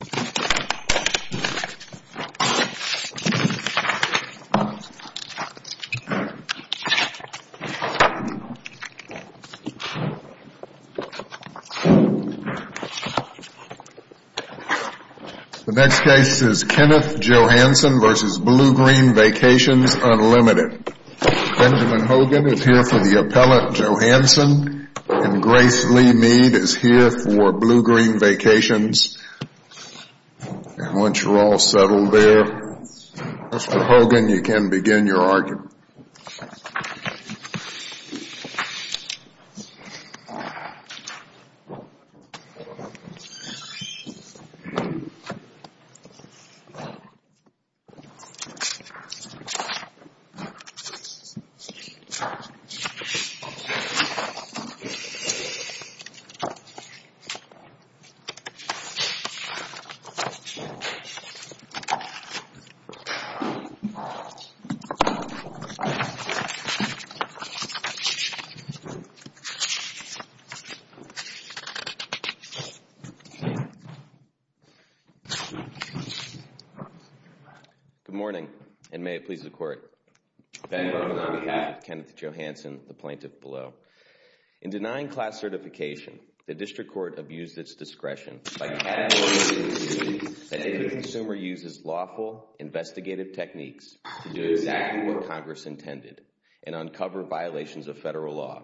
The next case is Kenneth Johansen v. Bluegreen Vacations Unlimited. Benjamin Hogan is here for Bluegreen Vacations. And once you're all settled there, Mr. Hogan, you can begin your Good morning, and may it please the Court, Benjamin Hogan on behalf of Kenneth Johansen and the plaintiff below. In denying class certification, the District Court abused its discretion by categorizing that if a consumer uses lawful investigative techniques to do exactly what Congress intended and uncover violations of federal law,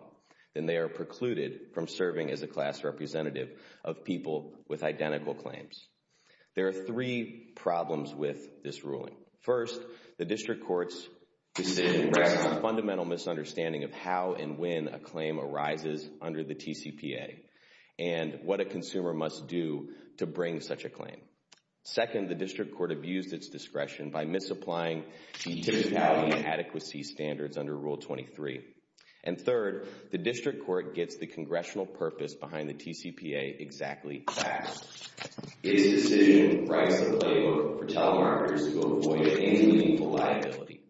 then they are precluded from serving as a class representative of people with identical claims. There are three problems with this ruling. First, the District Court's decision rests on a fundamental misunderstanding of how and when a claim arises under the TCPA and what a consumer must do to bring such a claim. Second, the District Court abused its discretion by misapplying the typicality adequacy standards under Rule 23. And third, the District Court gets the congressional purpose behind the TCPA exactly fast. Its decision writes a playbook for telemarketers who avoid any meaningful liability.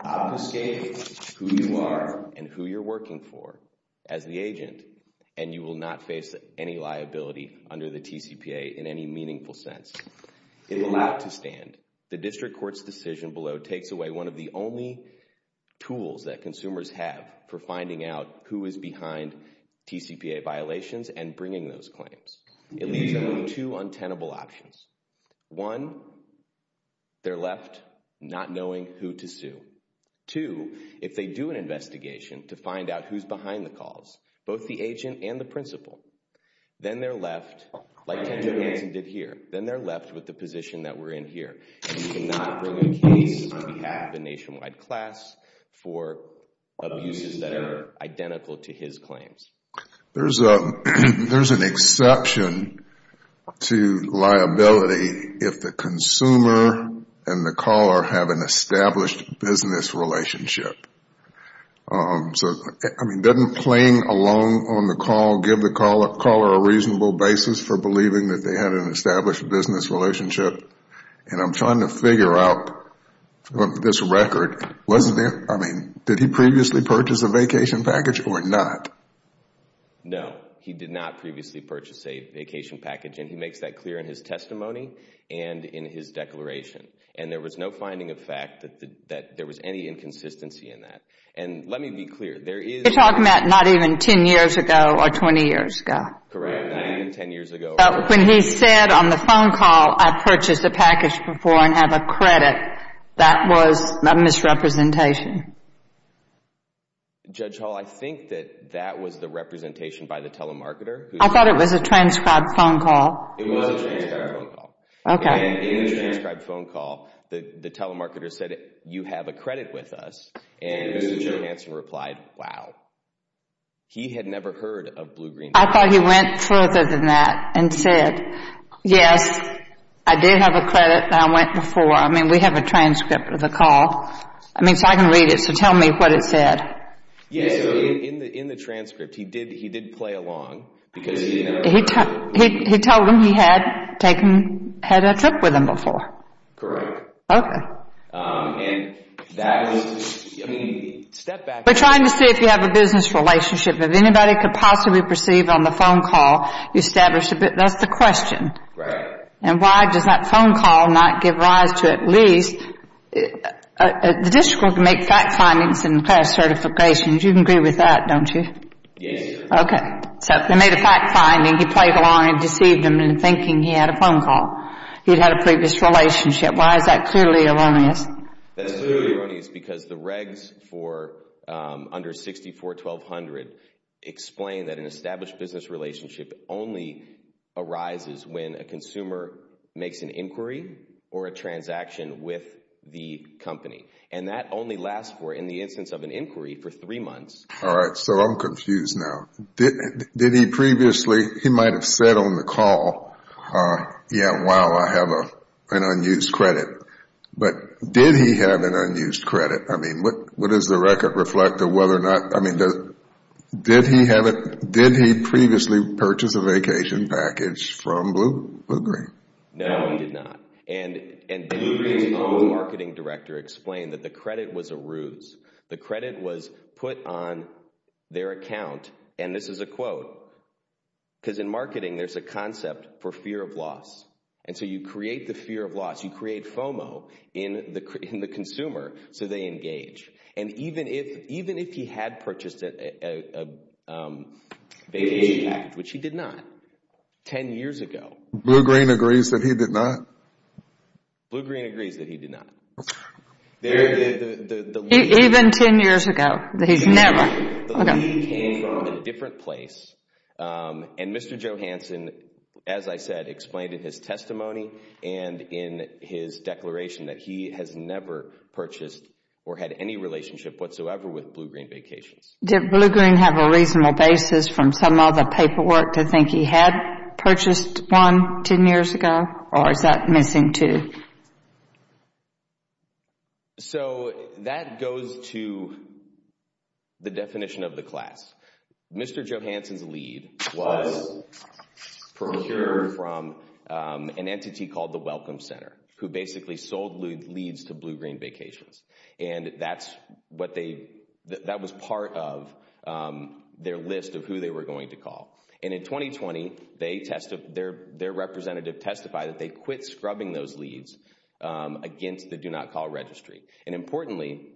Obfuscate who you are and who you're working for as the agent, and you will not face any liability under the TCPA in any meaningful sense. It will not stand. The District Court's decision below takes away one of the only tools that consumers have for finding out who is behind TCPA violations and bringing those claims. It leaves them with two untenable options. One, they're left not knowing who to sue. Two, if they do an investigation to find out who's behind the calls, both the agent and the principal, then they're left, like Ted Johnson did here, then they're left with the position that we're in here. And you cannot bring a case on behalf of a nationwide class for abuses that are identical to his claims. There's an exception to liability if the consumer and the caller have an established business relationship. So, I mean, doesn't playing along on the call give the caller a reasonable basis for believing that they had an established business relationship? And I'm trying to figure out this record. I mean, did he previously purchase a vacation package or not? No, he did not previously purchase a vacation package. And he makes that clear in his testimony and in his declaration. And there was no finding of fact that there was any inconsistency in that. And let me be clear. You're talking about not even 10 years ago or 20 years ago. Correct, not even 10 years ago. When he said on the phone call, I purchased a package before and have a credit, that was a misrepresentation. Judge Hall, I think that that was the representation by the telemarketer. I thought it was a transcribed phone call. It was a transcribed phone call. And in the transcribed phone call, the telemarketer said, you have a credit with us. And Mr. Johanson replied, wow. He had never heard of Blue Green. I thought he went further than that and said, yes, I did have a credit that I went before. I mean, we have a transcript of the call. I mean, so I can read it. So tell me what it said. Yes, in the transcript, he did. He did play along. Because he told him he had taken, had a trip with him before. Correct. Okay. We're trying to see if you have a business relationship. If anybody could possibly perceive on the phone call, you established a bit, that's the question. Right. And why does that phone call not give rise to at least, the district can make fact findings and class certifications. You can agree with that, don't you? Yes. Okay. So they made a fact finding. He played along and deceived him in thinking he had a phone call. He'd had a previous relationship. Why is that clearly erroneous? That's clearly erroneous because the regs for under 64-1200 explain that an established business relationship only arises when a consumer makes an inquiry or a transaction with the company. And that only lasts for, in the instance of an inquiry, for three months. All right. So I'm confused now. Did he previously, he might've said on the call, yeah, wow, I have an unused credit. But did he have an unused credit? I mean, what does the record reflect of whether or not, I mean, did he have it? Did he previously purchase a vacation package from Blue Green? No, he did not. And the marketing director explained that the credit was a ruse. The credit was put on their account. And this is a quote, because in marketing, there's a concept for fear of loss. And so you create the fear of loss. You create FOMO in the consumer so they engage. And even if he had purchased a vacation package, which he did not, 10 years ago. Blue Green agrees that he did not? Blue Green agrees that he did not. Even 10 years ago, that he's never. The lead came from a different place. And Mr. Johanson, as I said, explained in his testimony and in his declaration that he has never purchased or had any relationship whatsoever with Blue Green Vacations. Did Blue Green have a reasonable basis from some of the paperwork to think he had purchased one 10 years ago? Or is that missing too? So that goes to the definition of the class. Mr. Johanson's lead was procured from an entity called the Welcome Center, who basically sold leads to Blue Green Vacations. And that's what they, that was part of their list of who they were going to call. And in 2020, they testified, their representative testified that they quit scrubbing those leads against the Do Not Call Registry. And importantly,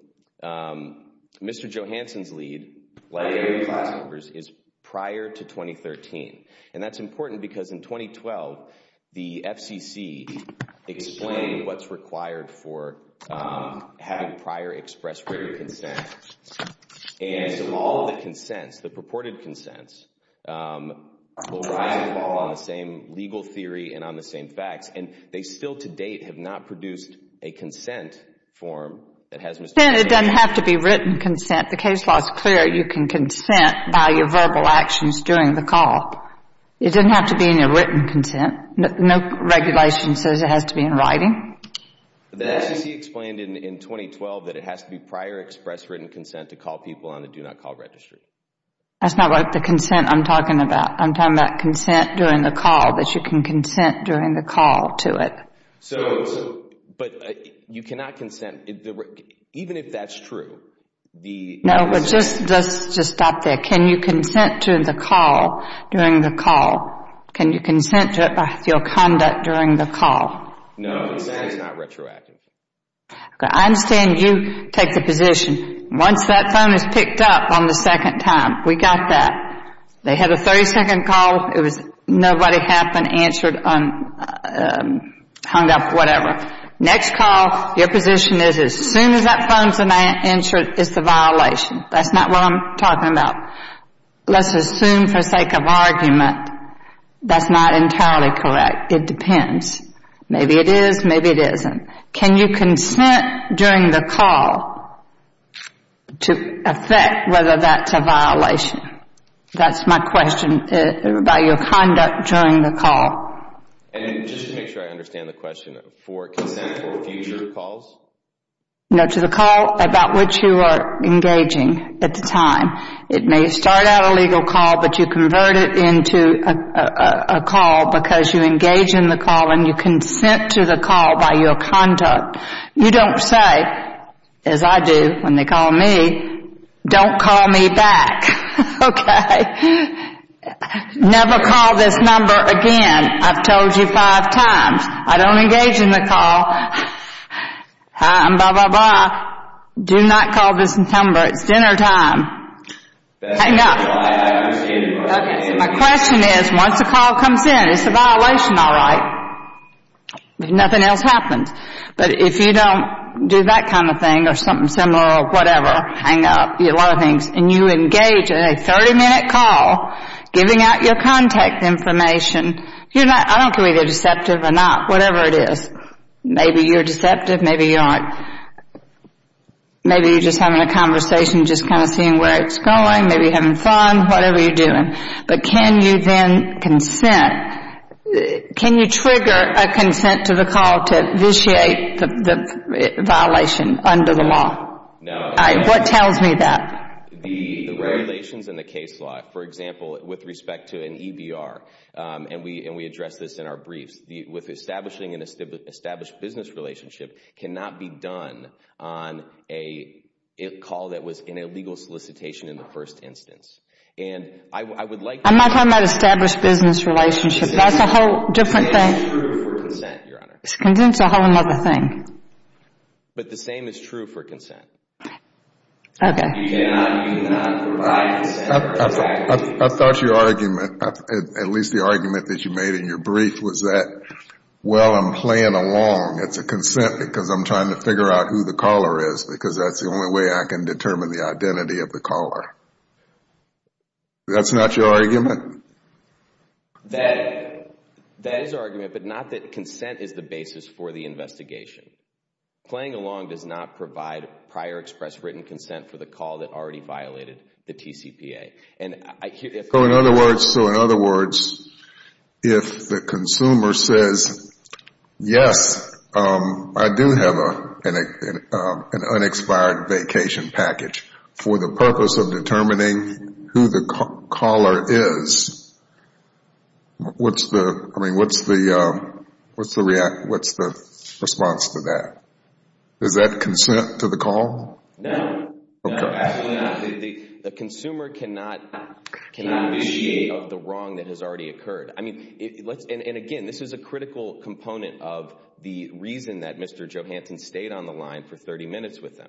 Mr. Johanson's lead, like every class member's, is prior to 2013. And that's important because in 2012, the FCC explained what's required for having prior express written consent. And so all of the consents, the purported consents, will rise and fall on the same legal theory and on the same facts. And they still to date have not produced a consent form that has Mr. Johanson's name on it. It doesn't have to be written consent. The case law is clear. You can consent by your verbal actions during the call. It doesn't have to be in your written consent. No regulation says it has to be in writing. The FCC explained in 2012 that it has to be prior express written consent to call people on the Do Not Call Registry. That's not what the consent I'm talking about. I'm talking about consent during the call, that you can consent during the call to it. But you cannot consent, even if that's true. No, but just stop there. Can you consent to the call during the call? Can you consent to it by your conduct during the call? No, consent is not retroactive. Okay, I understand you take the position. Once that phone is picked up on the second time, we got that. They had a 30 second call. It was nobody happened, answered, hung up, whatever. Next call, your position is as soon as that phone's answered, it's a violation. That's not what I'm talking about. Let's assume for sake of argument, that's not entirely correct. It depends. Maybe it is, maybe it isn't. Can you consent during the call to affect whether that's a violation? That's my question, by your conduct during the call. And just to make sure I understand the question, for consent for future calls? No, to the call about which you are engaging at the time. It may start out a legal call, but you convert it into a call because you engage in the call and you consent to the conduct. You don't say, as I do when they call me, don't call me back, okay? Never call this number again. I've told you five times. I don't engage in the call. Hi, I'm blah, blah, blah. Do not call this number. It's dinner time. That's not what I understand. My question is, once a call comes in, is the violation all right? Nothing else happens. But if you don't do that kind of thing or something similar or whatever, hang up, a lot of things, and you engage in a 30-minute call, giving out your contact information, I don't care whether you're deceptive or not, whatever it is. Maybe you're deceptive, maybe you aren't. Maybe you're just having a conversation, just kind of seeing where it's going. Maybe you're having fun, whatever you're doing. But can you then consent? Can you trigger a consent to the call to vitiate the violation under the law? What tells me that? The regulations and the case law, for example, with respect to an EBR, and we address this in our briefs, with establishing an established business relationship cannot be done on a call that was in a legal solicitation in the first instance. I'm not talking about established business relationship. That's a whole different thing. The same is true for consent, Your Honor. Consent's a whole other thing. But the same is true for consent. Okay. I thought your argument, at least the argument that you made in your brief, was that, well, I'm playing along. It's a consent because I'm trying to figure out who the caller is, because that's the only way I can determine the identity of the caller. That's not your argument? That is our argument, but not that consent is the basis for the investigation. Playing along does not provide prior express written consent for the call that already violated the TCPA. So, in other words, if the consumer says, yes, I do have an unexpired vacation package for the purpose of determining who the caller is, what's the response to that? Is that consent to the call? No. No, absolutely not. The consumer cannot initiate of the wrong that has already occurred. I mean, and again, this is a critical component of the reason that Mr. Johansson stayed on the line for 30 minutes with them.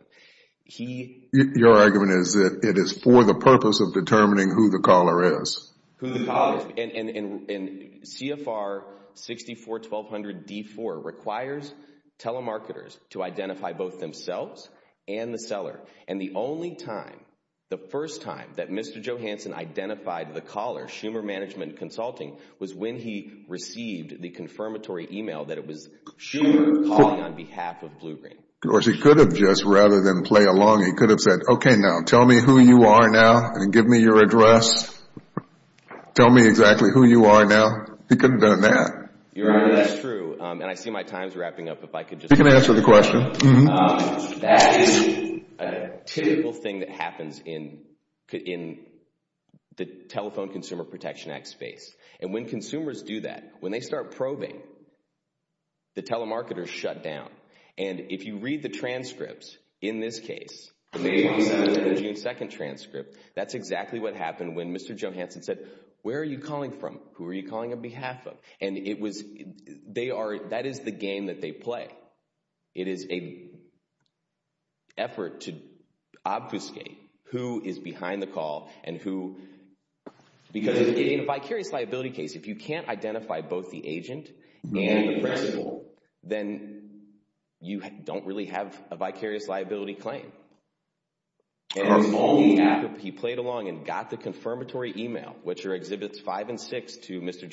Your argument is that it is for the purpose of determining who the caller is. Who the caller is. And CFR 64-1200-D4 requires telemarketers to identify both themselves and the seller. And the only time, the first time that Mr. Johansson identified the caller, Schumer Management Consulting, was when he received the confirmatory email that it was Schumer calling on behalf of Blue Ring. Of course, he could have just, rather than play along, he could have said, okay, now tell me who you are now and give me your address. Tell me exactly who you are now. He could have done that. Your Honor, that's true. You can answer the question. That is a typical thing that happens in the Telephone Consumer Protection Act space. And when consumers do that, when they start probing, the telemarketers shut down. And if you read the transcripts, in this case, the June 2 transcript, that's exactly what happened when Mr. Johansson said, where are you calling from? Who are you calling on behalf of? And it was, they are, that is the game that they play. It is an effort to obfuscate who is behind the call and who, because in a vicarious liability case, if you can't identify both the agent and the person, then you don't really have a vicarious liability claim. He played along and got the confirmatory email, which are Exhibits 5 and 6 to Mr.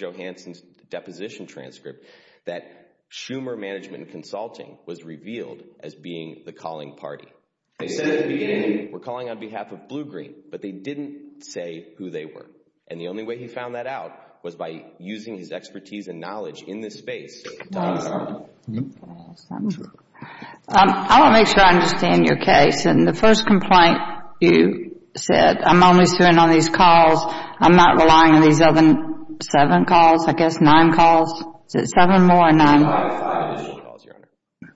Schumer Management and Consulting was revealed as being the calling party. They said at the beginning, we're calling on behalf of Blue Green, but they didn't say who they were. And the only way he found that out was by using his expertise and knowledge in this space. I want to make sure I understand your case. And the first complaint you said, I'm only serving on these calls. I'm not relying on these other seven calls, I guess, nine calls. Is it seven more or nine? It was five additional calls, Your Honor.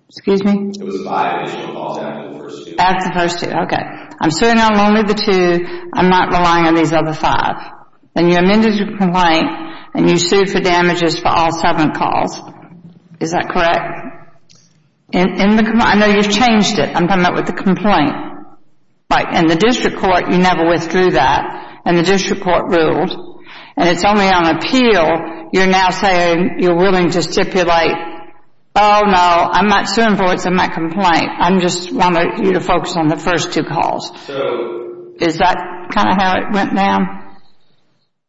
Excuse me? It was five additional calls after the first two. After the first two, okay. I'm serving on only the two. I'm not relying on these other five. And you amended your complaint and you sued for damages for all seven calls. Is that correct? I know you've changed it. I'm talking about with the complaint. Right. And the district court, you never withdrew that. And the district court ruled. And it's only on appeal, you're now saying you're willing to stipulate, oh, no, I'm not suing for what's in my complaint. I just want you to focus on the first two calls. Is that kind of how it went down?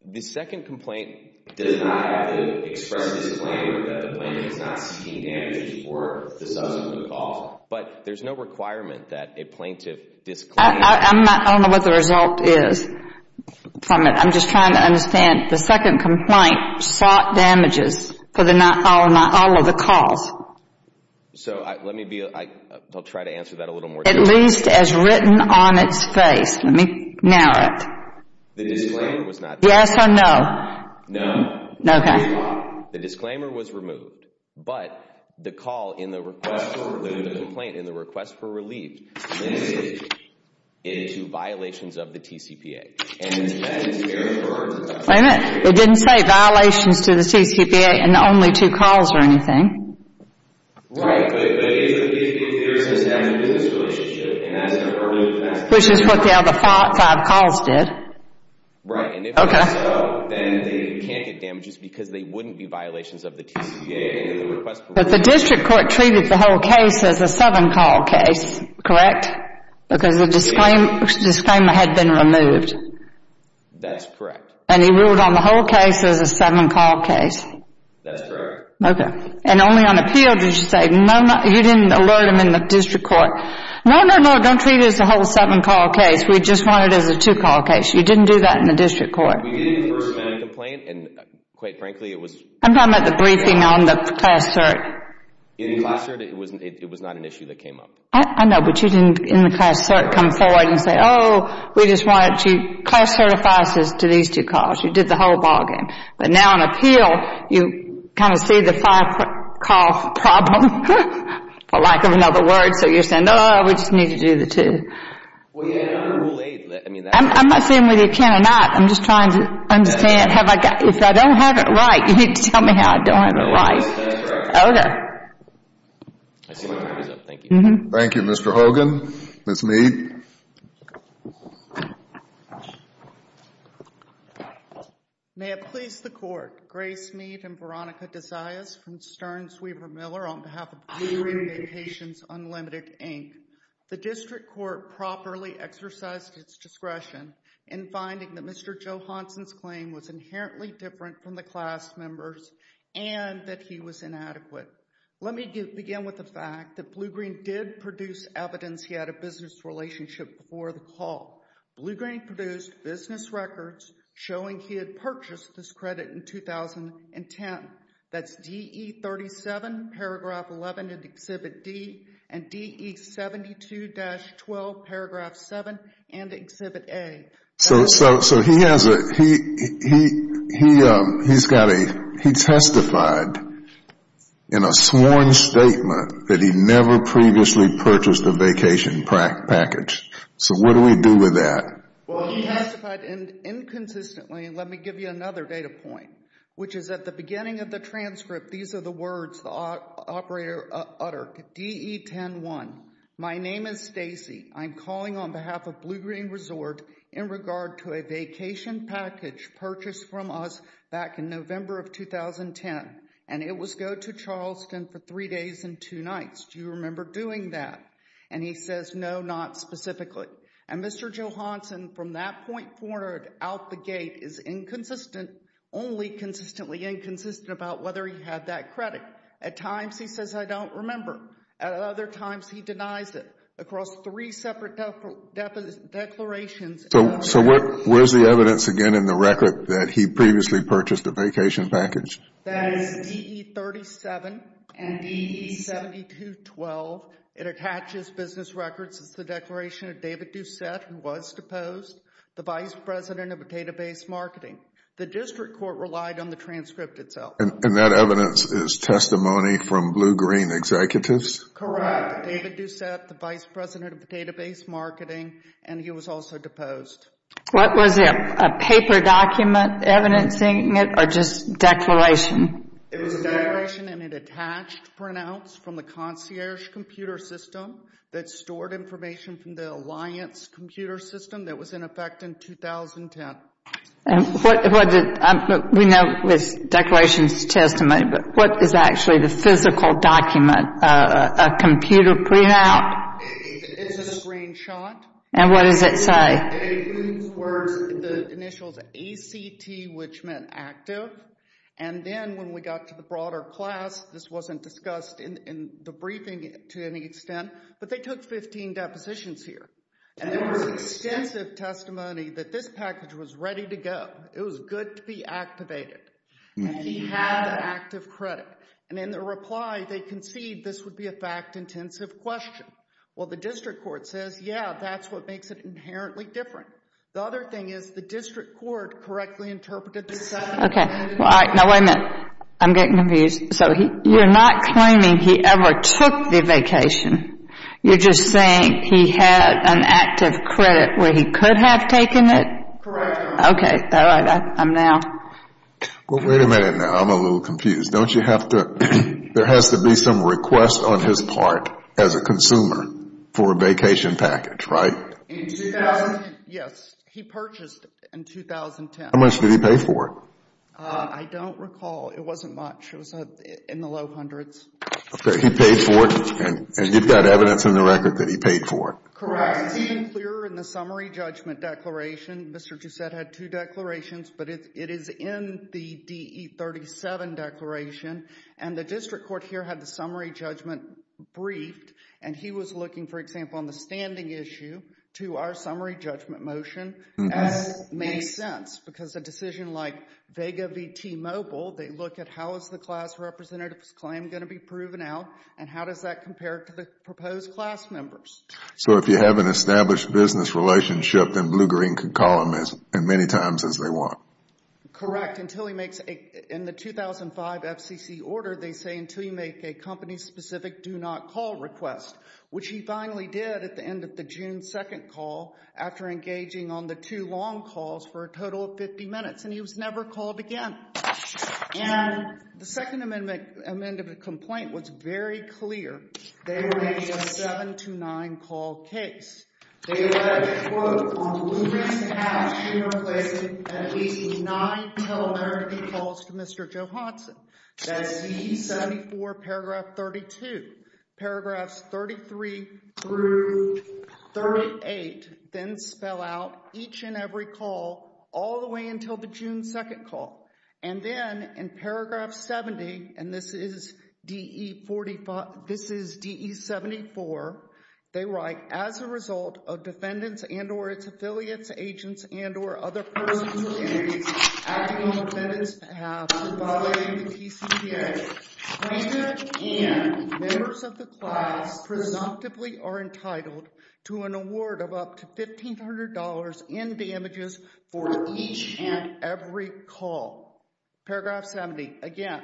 The second complaint does not have to express a disclaimer that the plaintiff is not seeking damages for the subsequent calls. But there's no requirement that a plaintiff disclaims. I don't know what the result is from it. I'm just trying to understand. The second complaint sought damages for all of the calls. So, let me be, I'll try to answer that a little more. At least as written on its face. Let me narrow it. The disclaimer was not. Yes or no? No. Okay. The disclaimer was removed. But the call in the request for relief. Into violations of the TCPA. And that's an error for our request. Wait a minute. It didn't say violations to the TCPA and only two calls or anything. Right. But it clearly says damage to this relationship. And that's an error in the request. Which is what the other five calls did. Right. And if that's so, then they can't get damages because they wouldn't be violations of the TCPA. But the district court treated the whole case as a seven-call case. Correct? Because the disclaimer had been removed. That's correct. And he ruled on the whole case as a seven-call case. That's correct. Okay. And only on appeal did you say, no, you didn't alert them in the district court. No, no, no. Don't treat it as a whole seven-call case. We just want it as a two-call case. You didn't do that in the district court. We did in the first medical complaint. And quite frankly, it was. I'm talking about the briefing on the class cert. In the class cert, it was not an issue that came up. I know. But you didn't, in the class cert, come forward and say, oh, we just wanted to class certify us to these two calls. You did the whole bargain. But now on appeal, you kind of see the five-call problem, for lack of another word. So you're saying, oh, we just need to do the two. Well, yeah, under Rule 8, I mean, that's... I'm not saying whether you can or not. I'm just trying to understand if I don't have it right. You need to tell me how I don't have it right. Yes, that's correct. Okay. I see my time is up. Thank you. Thank you, Mr. Hogan. Ms. Mead. Thank you. May it please the Court, Grace Mead and Veronica DeZayas from Stern-Swever-Miller on behalf of Blue Green Vacations Unlimited, Inc. The district court properly exercised its discretion in finding that Mr. Johanson's claim was inherently different from the class member's and that he was inadequate. Let me begin with the fact that Blue Green did produce evidence he had a business relationship before the call. Blue Green produced business records showing he had purchased this credit in 2010. That's DE 37, paragraph 11 in Exhibit D and DE 72-12, paragraph 7 in Exhibit A. So he has a... He's got a... He testified in a sworn statement that he never previously purchased a vacation package. So what do we do with that? Well, he testified inconsistently. Let me give you another data point, which is at the beginning of the transcript, these are the words, the operator uttered, DE 10-1. My name is Stacy. I'm calling on behalf of Blue Green Resort in regard to a vacation package purchased from us back in November of 2010. And it was go to Charleston for three days and two nights. Do you remember doing that? And he says, no, not specifically. And Mr. Johanson, from that point forward, out the gate, is inconsistent, only consistently inconsistent about whether he had that credit. At times, he says, I don't remember. At other times, he denies it. Across three separate declarations... So where's the evidence, again, in the record that he previously purchased a vacation package? That is DE 37 and DE 72-12. It attaches business records. It's the declaration of David Doucette, who was deposed, the vice president of database marketing. The district court relied on the transcript itself. And that evidence is testimony from Blue Green executives? Correct. David Doucette, the vice president of database marketing, and he was also deposed. What was it, a paper document evidencing it, or just declaration? It was a declaration, and it attached printouts from the concierge computer system that stored information from the alliance computer system that was in effect in 2010. And what, we know it's declarations of testimony, but what is actually the physical document, a computer printout? It's a screenshot. And what does it say? The initials ACT, which meant active. And then when we got to the broader class, this wasn't discussed in the briefing to any extent, but they took 15 depositions here. And there was extensive testimony that this package was ready to go. It was good to be activated. And he had active credit. And in the reply, they concede this would be a fact-intensive question. Well, the district court says, yeah, that's what makes it inherently different. The other thing is, the district court correctly interpreted this. Okay, well, all right, now wait a minute. I'm getting confused. So you're not claiming he ever took the vacation. You're just saying he had an active credit where he could have taken it? Correct. Okay, all right, I'm now. Well, wait a minute now. I'm a little confused. Don't you have to, there has to be some request on his part as a consumer for a vacation package, right? In 2000? Yes, he purchased in 2010. How much did he pay for it? I don't recall. It wasn't much. It was in the low hundreds. Okay, he paid for it, and you've got evidence in the record that he paid for it? Correct. It's even clearer in the summary judgment declaration. Mr. Giussette had two declarations, but it is in the DE-37 declaration. And the district court here had the summary judgment briefed. And he was looking, for example, on the standing issue to our summary judgment motion. And it makes sense because a decision like Vega VT Mobile, they look at how is the class representative's claim going to be proven out, and how does that compare to the proposed class members? So if you have an established business relationship, then Blue Green could call him as many times as they want. Correct, until he makes, in the 2005 FCC order, they say until you make a company-specific do not call request, which he finally did at the end of the June 2nd call after engaging on the two long calls for a total of 50 minutes. And he was never called again. And the second amendment of the complaint was very clear. They were making a 7 to 9 call case. They alleged, quote, on Blue Green's behalf, she replaced at least nine telemarketing calls to Mr. Johanson. That's DE 74, paragraph 32. Paragraphs 33 through 38 then spell out each and every call all the way until the June 2nd call. And then in paragraph 70, and this is DE 45, this is DE 74, they write, as a result of defendants and or its affiliates, agents and or other persons or entities acting on the defendant's behalf, not violating the TCPA, plaintiff and members of the class presumptively are entitled to an award of up to $1,500 in damages for each and every call. Paragraph 70, again.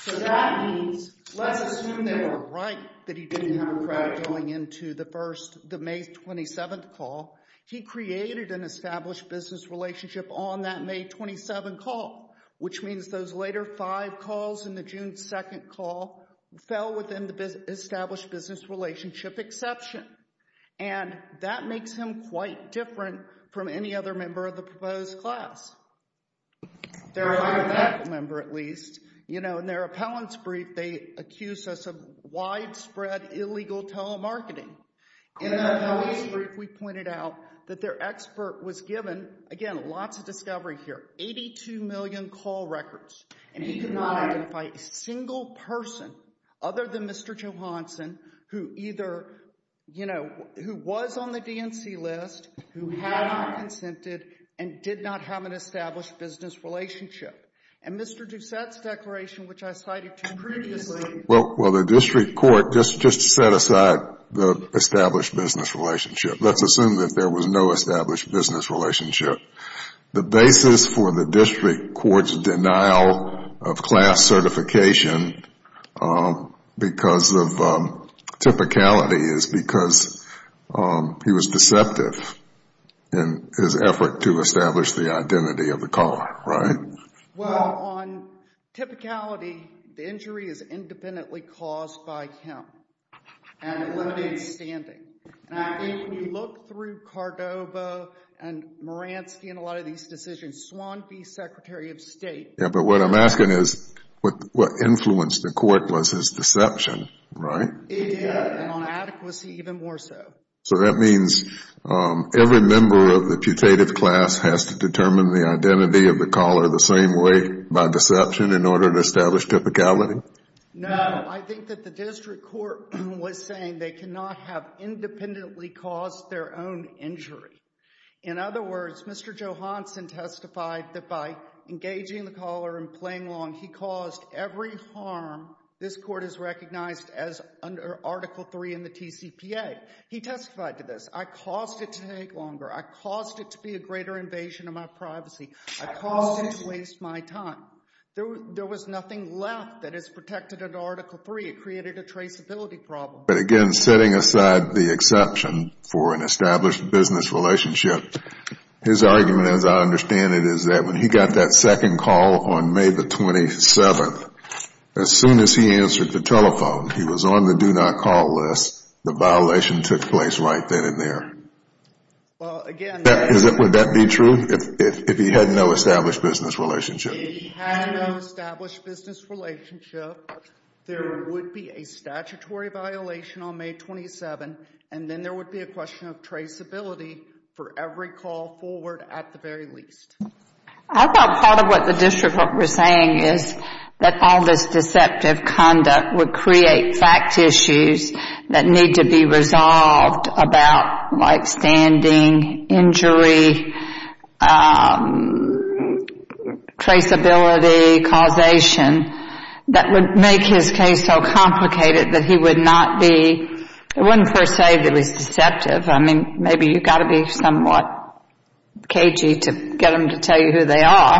So that means, let's assume they were right that he didn't have a crowd going into the May 27th call. He created an established business relationship on that May 27 call, which means those later five calls in the June 2nd call fell within the established business relationship exception. And that makes him quite different from any other member of the proposed class. Or any of that member, at least. You know, in their appellant's brief, they accuse us of widespread illegal telemarketing. In the appellant's brief, we pointed out that their expert was given, again, lots of discovery here, 82 million call records. And he could not identify a single person other than Mr. Johanson who either, you know, who was on the DNC list, who had not consented, and did not have an established business relationship. And Mr. Doucette's declaration, which I cited to you previously. Well, the district court just set aside the established business relationship. Let's assume that there was no established business relationship. The basis for the district court's denial of class certification because of typicality is because he was deceptive in his effort to establish the identity of the caller, right? Well, on typicality, the injury is independently caused by him. And it limited his standing. And I think if you look through Cordova and Moransky and a lot of these decisions, Swan v. Secretary of State. Yeah, but what I'm asking is what influenced the court was his deception, right? It did, and on adequacy, even more so. So that means every member of the putative class has to determine the identity of the caller the same way, by deception, in order to establish typicality? No, I think that the district court was saying they cannot have independently caused their own injury. In other words, Mr. Johanson testified that by engaging the caller and playing along, he caused every harm this court has recognized as under Article III in the TCPA. He testified to this. I caused it to take longer. I caused it to be a greater invasion of my privacy. I caused it to waste my time. There was nothing left that is protected under Article III. It created a traceability problem. But again, setting aside the exception for an established business relationship, his argument, as I understand it, is that when he got that second call on May the 27th, as soon as he answered the telephone, he was on the do not call list, the violation took place right then and there. Well, again, Would that be true if he had no established business relationship? If he had no established business relationship, there would be a statutory violation on May 27, and then there would be a question of traceability for every call forward at the very least. I thought part of what the district was saying is that all this deceptive conduct would create fact issues that need to be resolved about like standing, injury, traceability, causation, that would make his case so complicated that he would not be, it wouldn't per se be deceptive. I mean, maybe you've got to be somewhat cagey to get them to tell you who they are.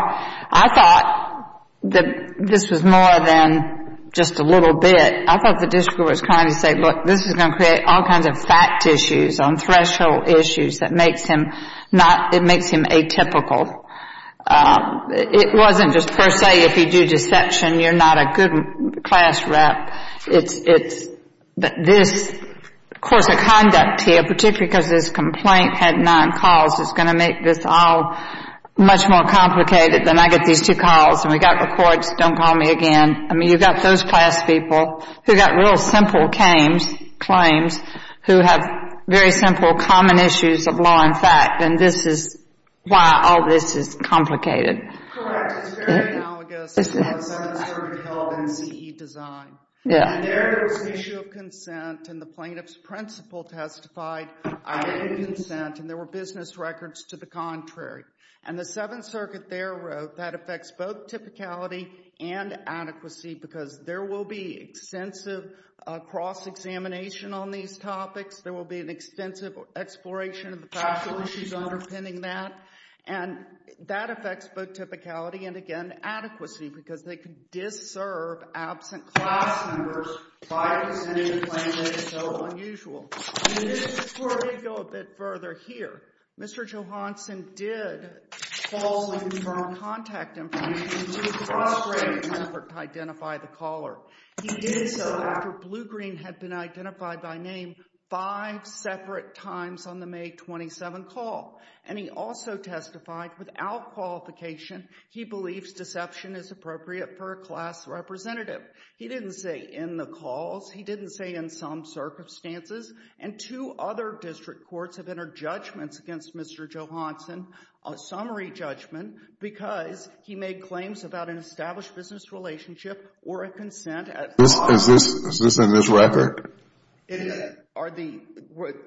I thought that this was more than just a little bit. I thought the district was trying to say, look, this is going to create all kinds of fact issues on threshold issues that makes him not, it makes him atypical. It wasn't just per se if you do deception, you're not a good class rep. But this course of conduct here, particularly because this complaint had nine calls, is going to make this all much more complicated than I get these two calls. And we've got the courts, don't call me again. I mean, you've got those class people who got real simple claims who have very simple common issues of law and fact. And this is why all this is complicated. Correct. It's very analogous to how the Seventh Circuit held NCE design. And there there was an issue of consent and the plaintiff's principal testified I had consent and there were business records to the contrary. And the Seventh Circuit there wrote that affects both typicality and adequacy because there will be extensive cross-examination on these topics. There will be an extensive exploration of the factual issues underpinning that. And that affects both typicality and, again, adequacy because they can disserve absent class members by presenting a claim that is so unusual. And just before we go a bit further here, Mr. Johanson did falsely confirm contact information in a frustrating effort to identify the caller. He did so after Blue Green had been identified by name five separate times on the May 27 call. And he also testified without qualification he believes deception is appropriate for a class representative. He didn't say in the calls. He didn't say in some circumstances. And two other district courts have entered judgments against Mr. Johanson, a summary judgment, because he made claims about an established business relationship or a consent at law. Is this in this record? It is. Are the,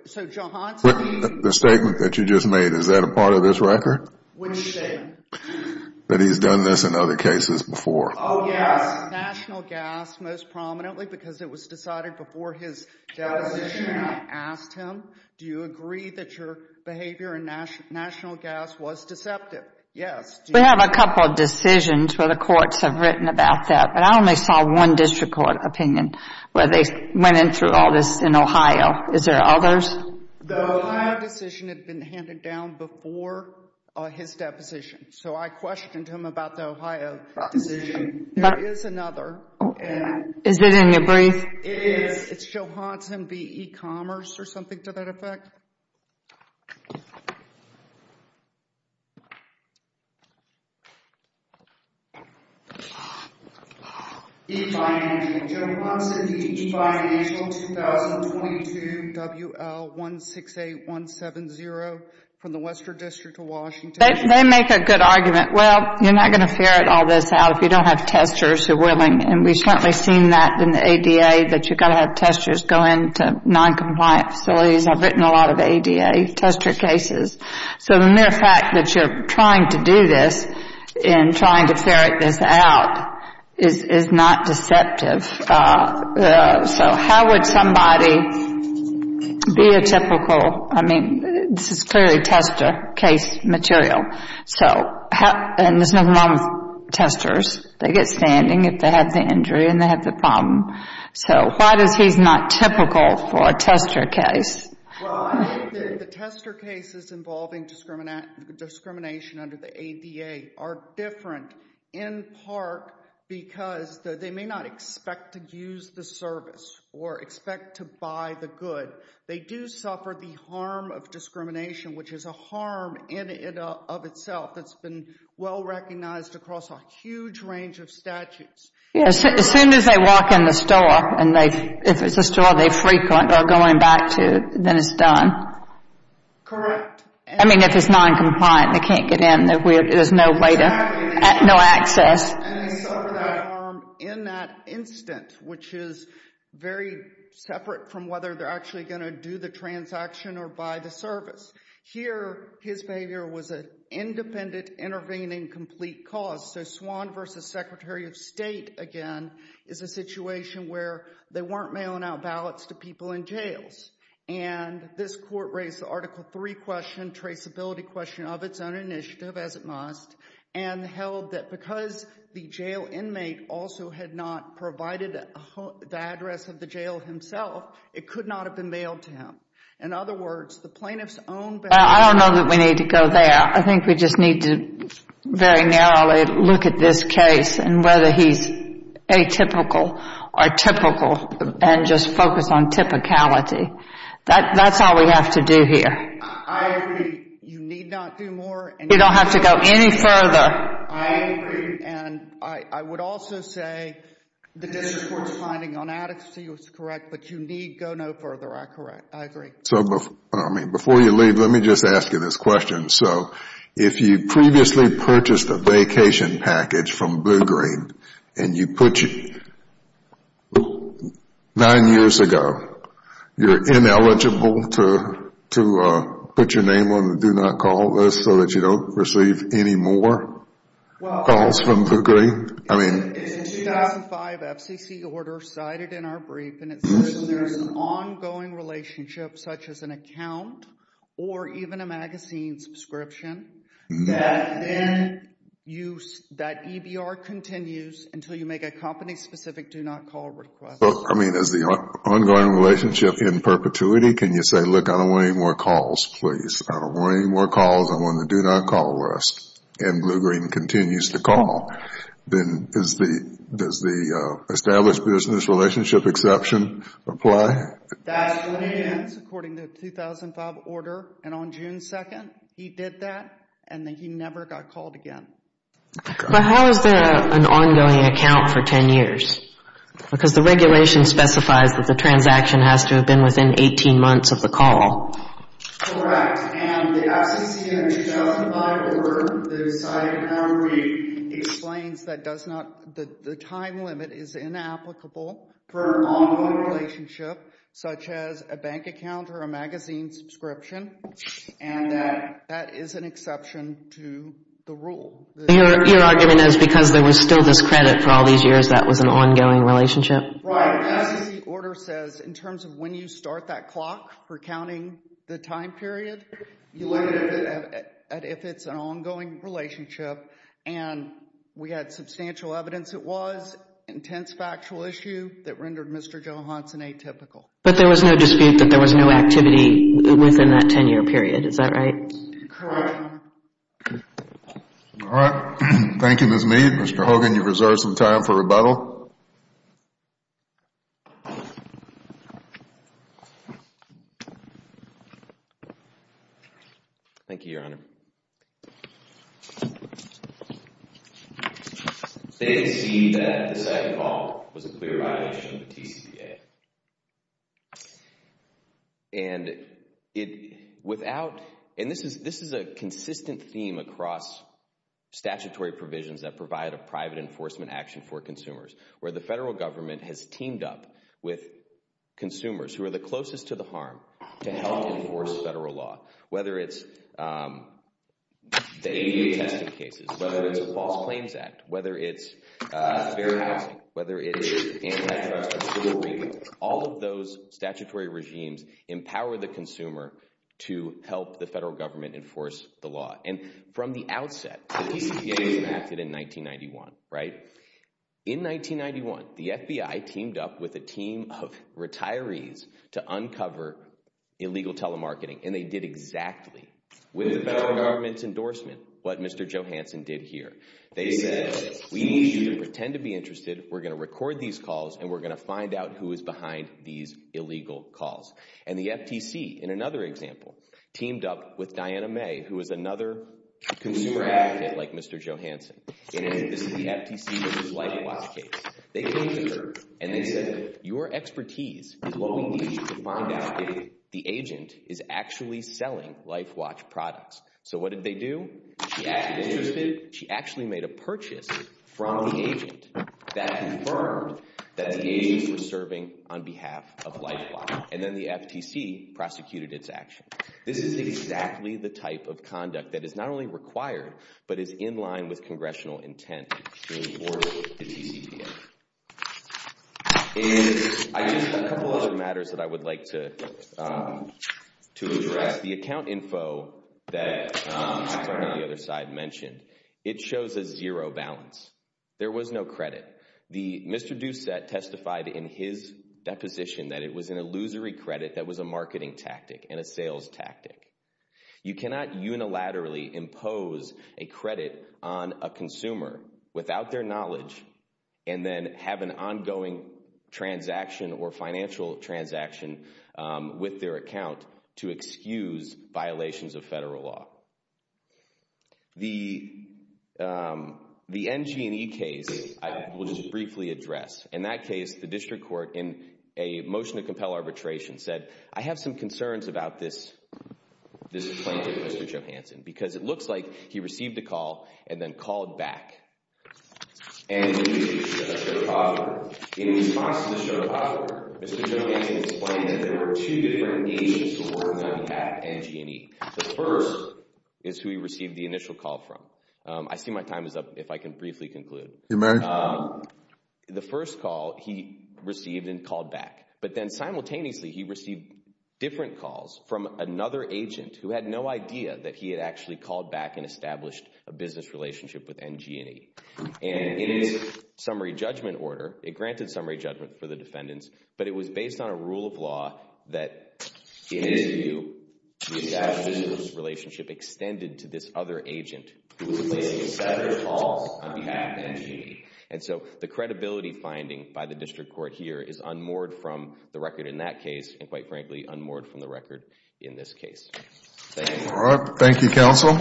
so Johanson. The statement that you just made, is that a part of this record? Which statement? That he's done this in other cases before. Oh, yes. National gas, most prominently, because it was decided before his deposition. And I asked him, do you agree that your behavior in national gas was deceptive? Yes. We have a couple of decisions where the courts have written about that. But I only saw one district court opinion where they went in through all this in Ohio. Is there others? The Ohio decision had been handed down before his deposition. So I questioned him about the Ohio decision. There is another. Is it in your brief? It is. It's Johanson v. e-commerce or something to that effect. E-financial, Johanson v. e-financial, 2022, WL168170, from the Western District of Washington. They make a good argument. Well, you're not going to ferret all this out if you don't have testers who are willing. And we've certainly seen that in the ADA, that you've got to have testers go into non-compliant facilities. I've written a lot of ADA tester cases. So the mere fact that you're trying to do this and trying to ferret this out is not deceptive. So how would somebody be a typical, I mean, this is clearly tester case material. And there's nothing wrong with testers. They get standing if they have the injury and they have the problem. So why is he not typical for a tester case? Well, I think that the tester cases involving discrimination under the ADA are different in part because they may not expect to use the service or expect to buy the good. They do suffer the harm of discrimination, which is a harm in and of itself that's been well-recognized across a huge range of statutes. Yeah, as soon as they walk in the store, and if it's a store they frequent or going back to, then it's done. Correct. I mean, if it's non-compliant, they can't get in. There's no way to, no access. And they suffer that harm in that instant, which is very separate from whether they're actually going to do the transaction or buy the service. Here, his behavior was an independent, intervening, complete cause. So Swan v. Secretary of State, again, is a situation where they weren't mailing out ballots to people in jails. And this court raised the Article III question, traceability question, of its own initiative, as it must, and held that because the jail inmate also had not provided the address of the jail himself, it could not have been mailed to him. In other words, the plaintiff's own ballot. I don't know that we need to go there. I think we just need to very narrowly look at this case and whether he's atypical or typical and just focus on typicality. That's all we have to do here. I agree. You need not do more. You don't have to go any further. I agree. And I would also say the district court's finding on adequacy was correct, but you need go no further. I agree. So before you leave, let me just ask you this question. So if you previously purchased a vacation package from Blue Green and you put your... Nine years ago, you're ineligible to put your name on the do not call list so that you don't receive any more calls from Blue Green. I mean... In 2005 FCC order cited in our brief, and it says there's an ongoing relationship, such as an account or even a magazine subscription, that EBR continues until you make a company-specific do not call request. I mean, is the ongoing relationship in perpetuity? Can you say, look, I don't want any more calls, please. I don't want any more calls. I want the do not call list. And Blue Green continues to call. Then does the established business relationship exception apply? That's what it is, according to the 2005 order. And on June 2nd, he did that. And then he never got called again. But how is there an ongoing account for 10 years? Because the regulation specifies that the transaction has to have been within 18 months of the call. Correct. And the FCC in 2005 order that was cited in our brief explains that the time limit is inapplicable for an ongoing relationship, such as a bank account or a magazine subscription. And that is an exception to the rule. Your argument is because there was still this credit for all these years that was an ongoing relationship? Right. As the order says, in terms of when you start that clock for counting the time period, you look at if it's an ongoing relationship. And we had substantial evidence it was. Intense factual issue that rendered Mr. Johanson atypical. But there was no dispute that there was no activity within that 10-year period. Is that right? Correct. All right. Thank you, Ms. Mead. Mr. Hogan, you've reserved some time for rebuttal. Thank you, Your Honor. They concede that the second call was a clear violation of the TCPA. And this is a consistent theme across statutory provisions that provide a private enforcement action for consumers, where the federal government has teamed up with consumers who are the closest to the harm to help enforce federal law, whether it's the AU testing cases, whether it's the False Claims Act, whether it's fair housing, whether it's antitrust, all of those statutory regimes empower the consumer to help the federal government enforce the law. And from the outset, the TCPA was enacted in 1991, right? In 1991, the FBI teamed up with a team of retirees to uncover illegal telemarketing. And they did exactly, with the federal government's endorsement, what Mr. Johanson did here. They said, we need you to pretend to be interested. We're going to record these calls. And we're going to find out who is behind these illegal calls. And the FTC, in another example, teamed up with Diana May, who is another consumer advocate like Mr. Johanson. And this is the FTC versus LifeWatch case. They came to her and they said, your expertise is what we need to find out if the agent is actually selling LifeWatch products. So what did they do? She actually made a purchase from the agent that confirmed that the agents were serving on behalf of LifeWatch. And then the FTC prosecuted its action. This is exactly the type of conduct that is not only required, but is in line with congressional intent to enforce the TCPA. In a couple other matters that I would like to address, the account info that the other side mentioned, it shows a zero balance. There was no credit. The Mr. Doucette testified in his deposition that it was an illusory credit that was a marketing tactic and a sales tactic. You cannot unilaterally impose a credit on a consumer without their knowledge and then have an ongoing transaction or financial transaction with their account to excuse violations of federal law. The NG&E case, I will just briefly address. In that case, the district court in a motion to compel arbitration said, I have some concerns about this plaintiff, Mr. Johansson, because it looks like he received a call and then called back. NG&E, a sharecropper. In response to the sharecropper, Mr. Johansson explained that there were two different agents who were working on behalf of NG&E. The first is who he received the initial call from. I see my time is up. If I can briefly conclude. The first call he received and called back, but then simultaneously he received different calls from another agent who had no idea that he had actually called back and established a business relationship with NG&E. And in its summary judgment order, it granted summary judgment for the defendants, but it was based on a rule of law that in his view, he established a business relationship extended to this other agent who was placing a separate call on behalf of NG&E. And so the credibility finding by the district court here is unmoored from the record in that case and quite frankly, unmoored from the record in this case. Thank you. All right. Thank you, counsel.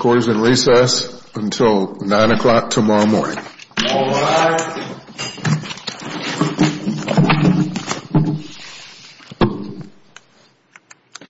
Court is in recess until nine o'clock tomorrow morning. Thank you.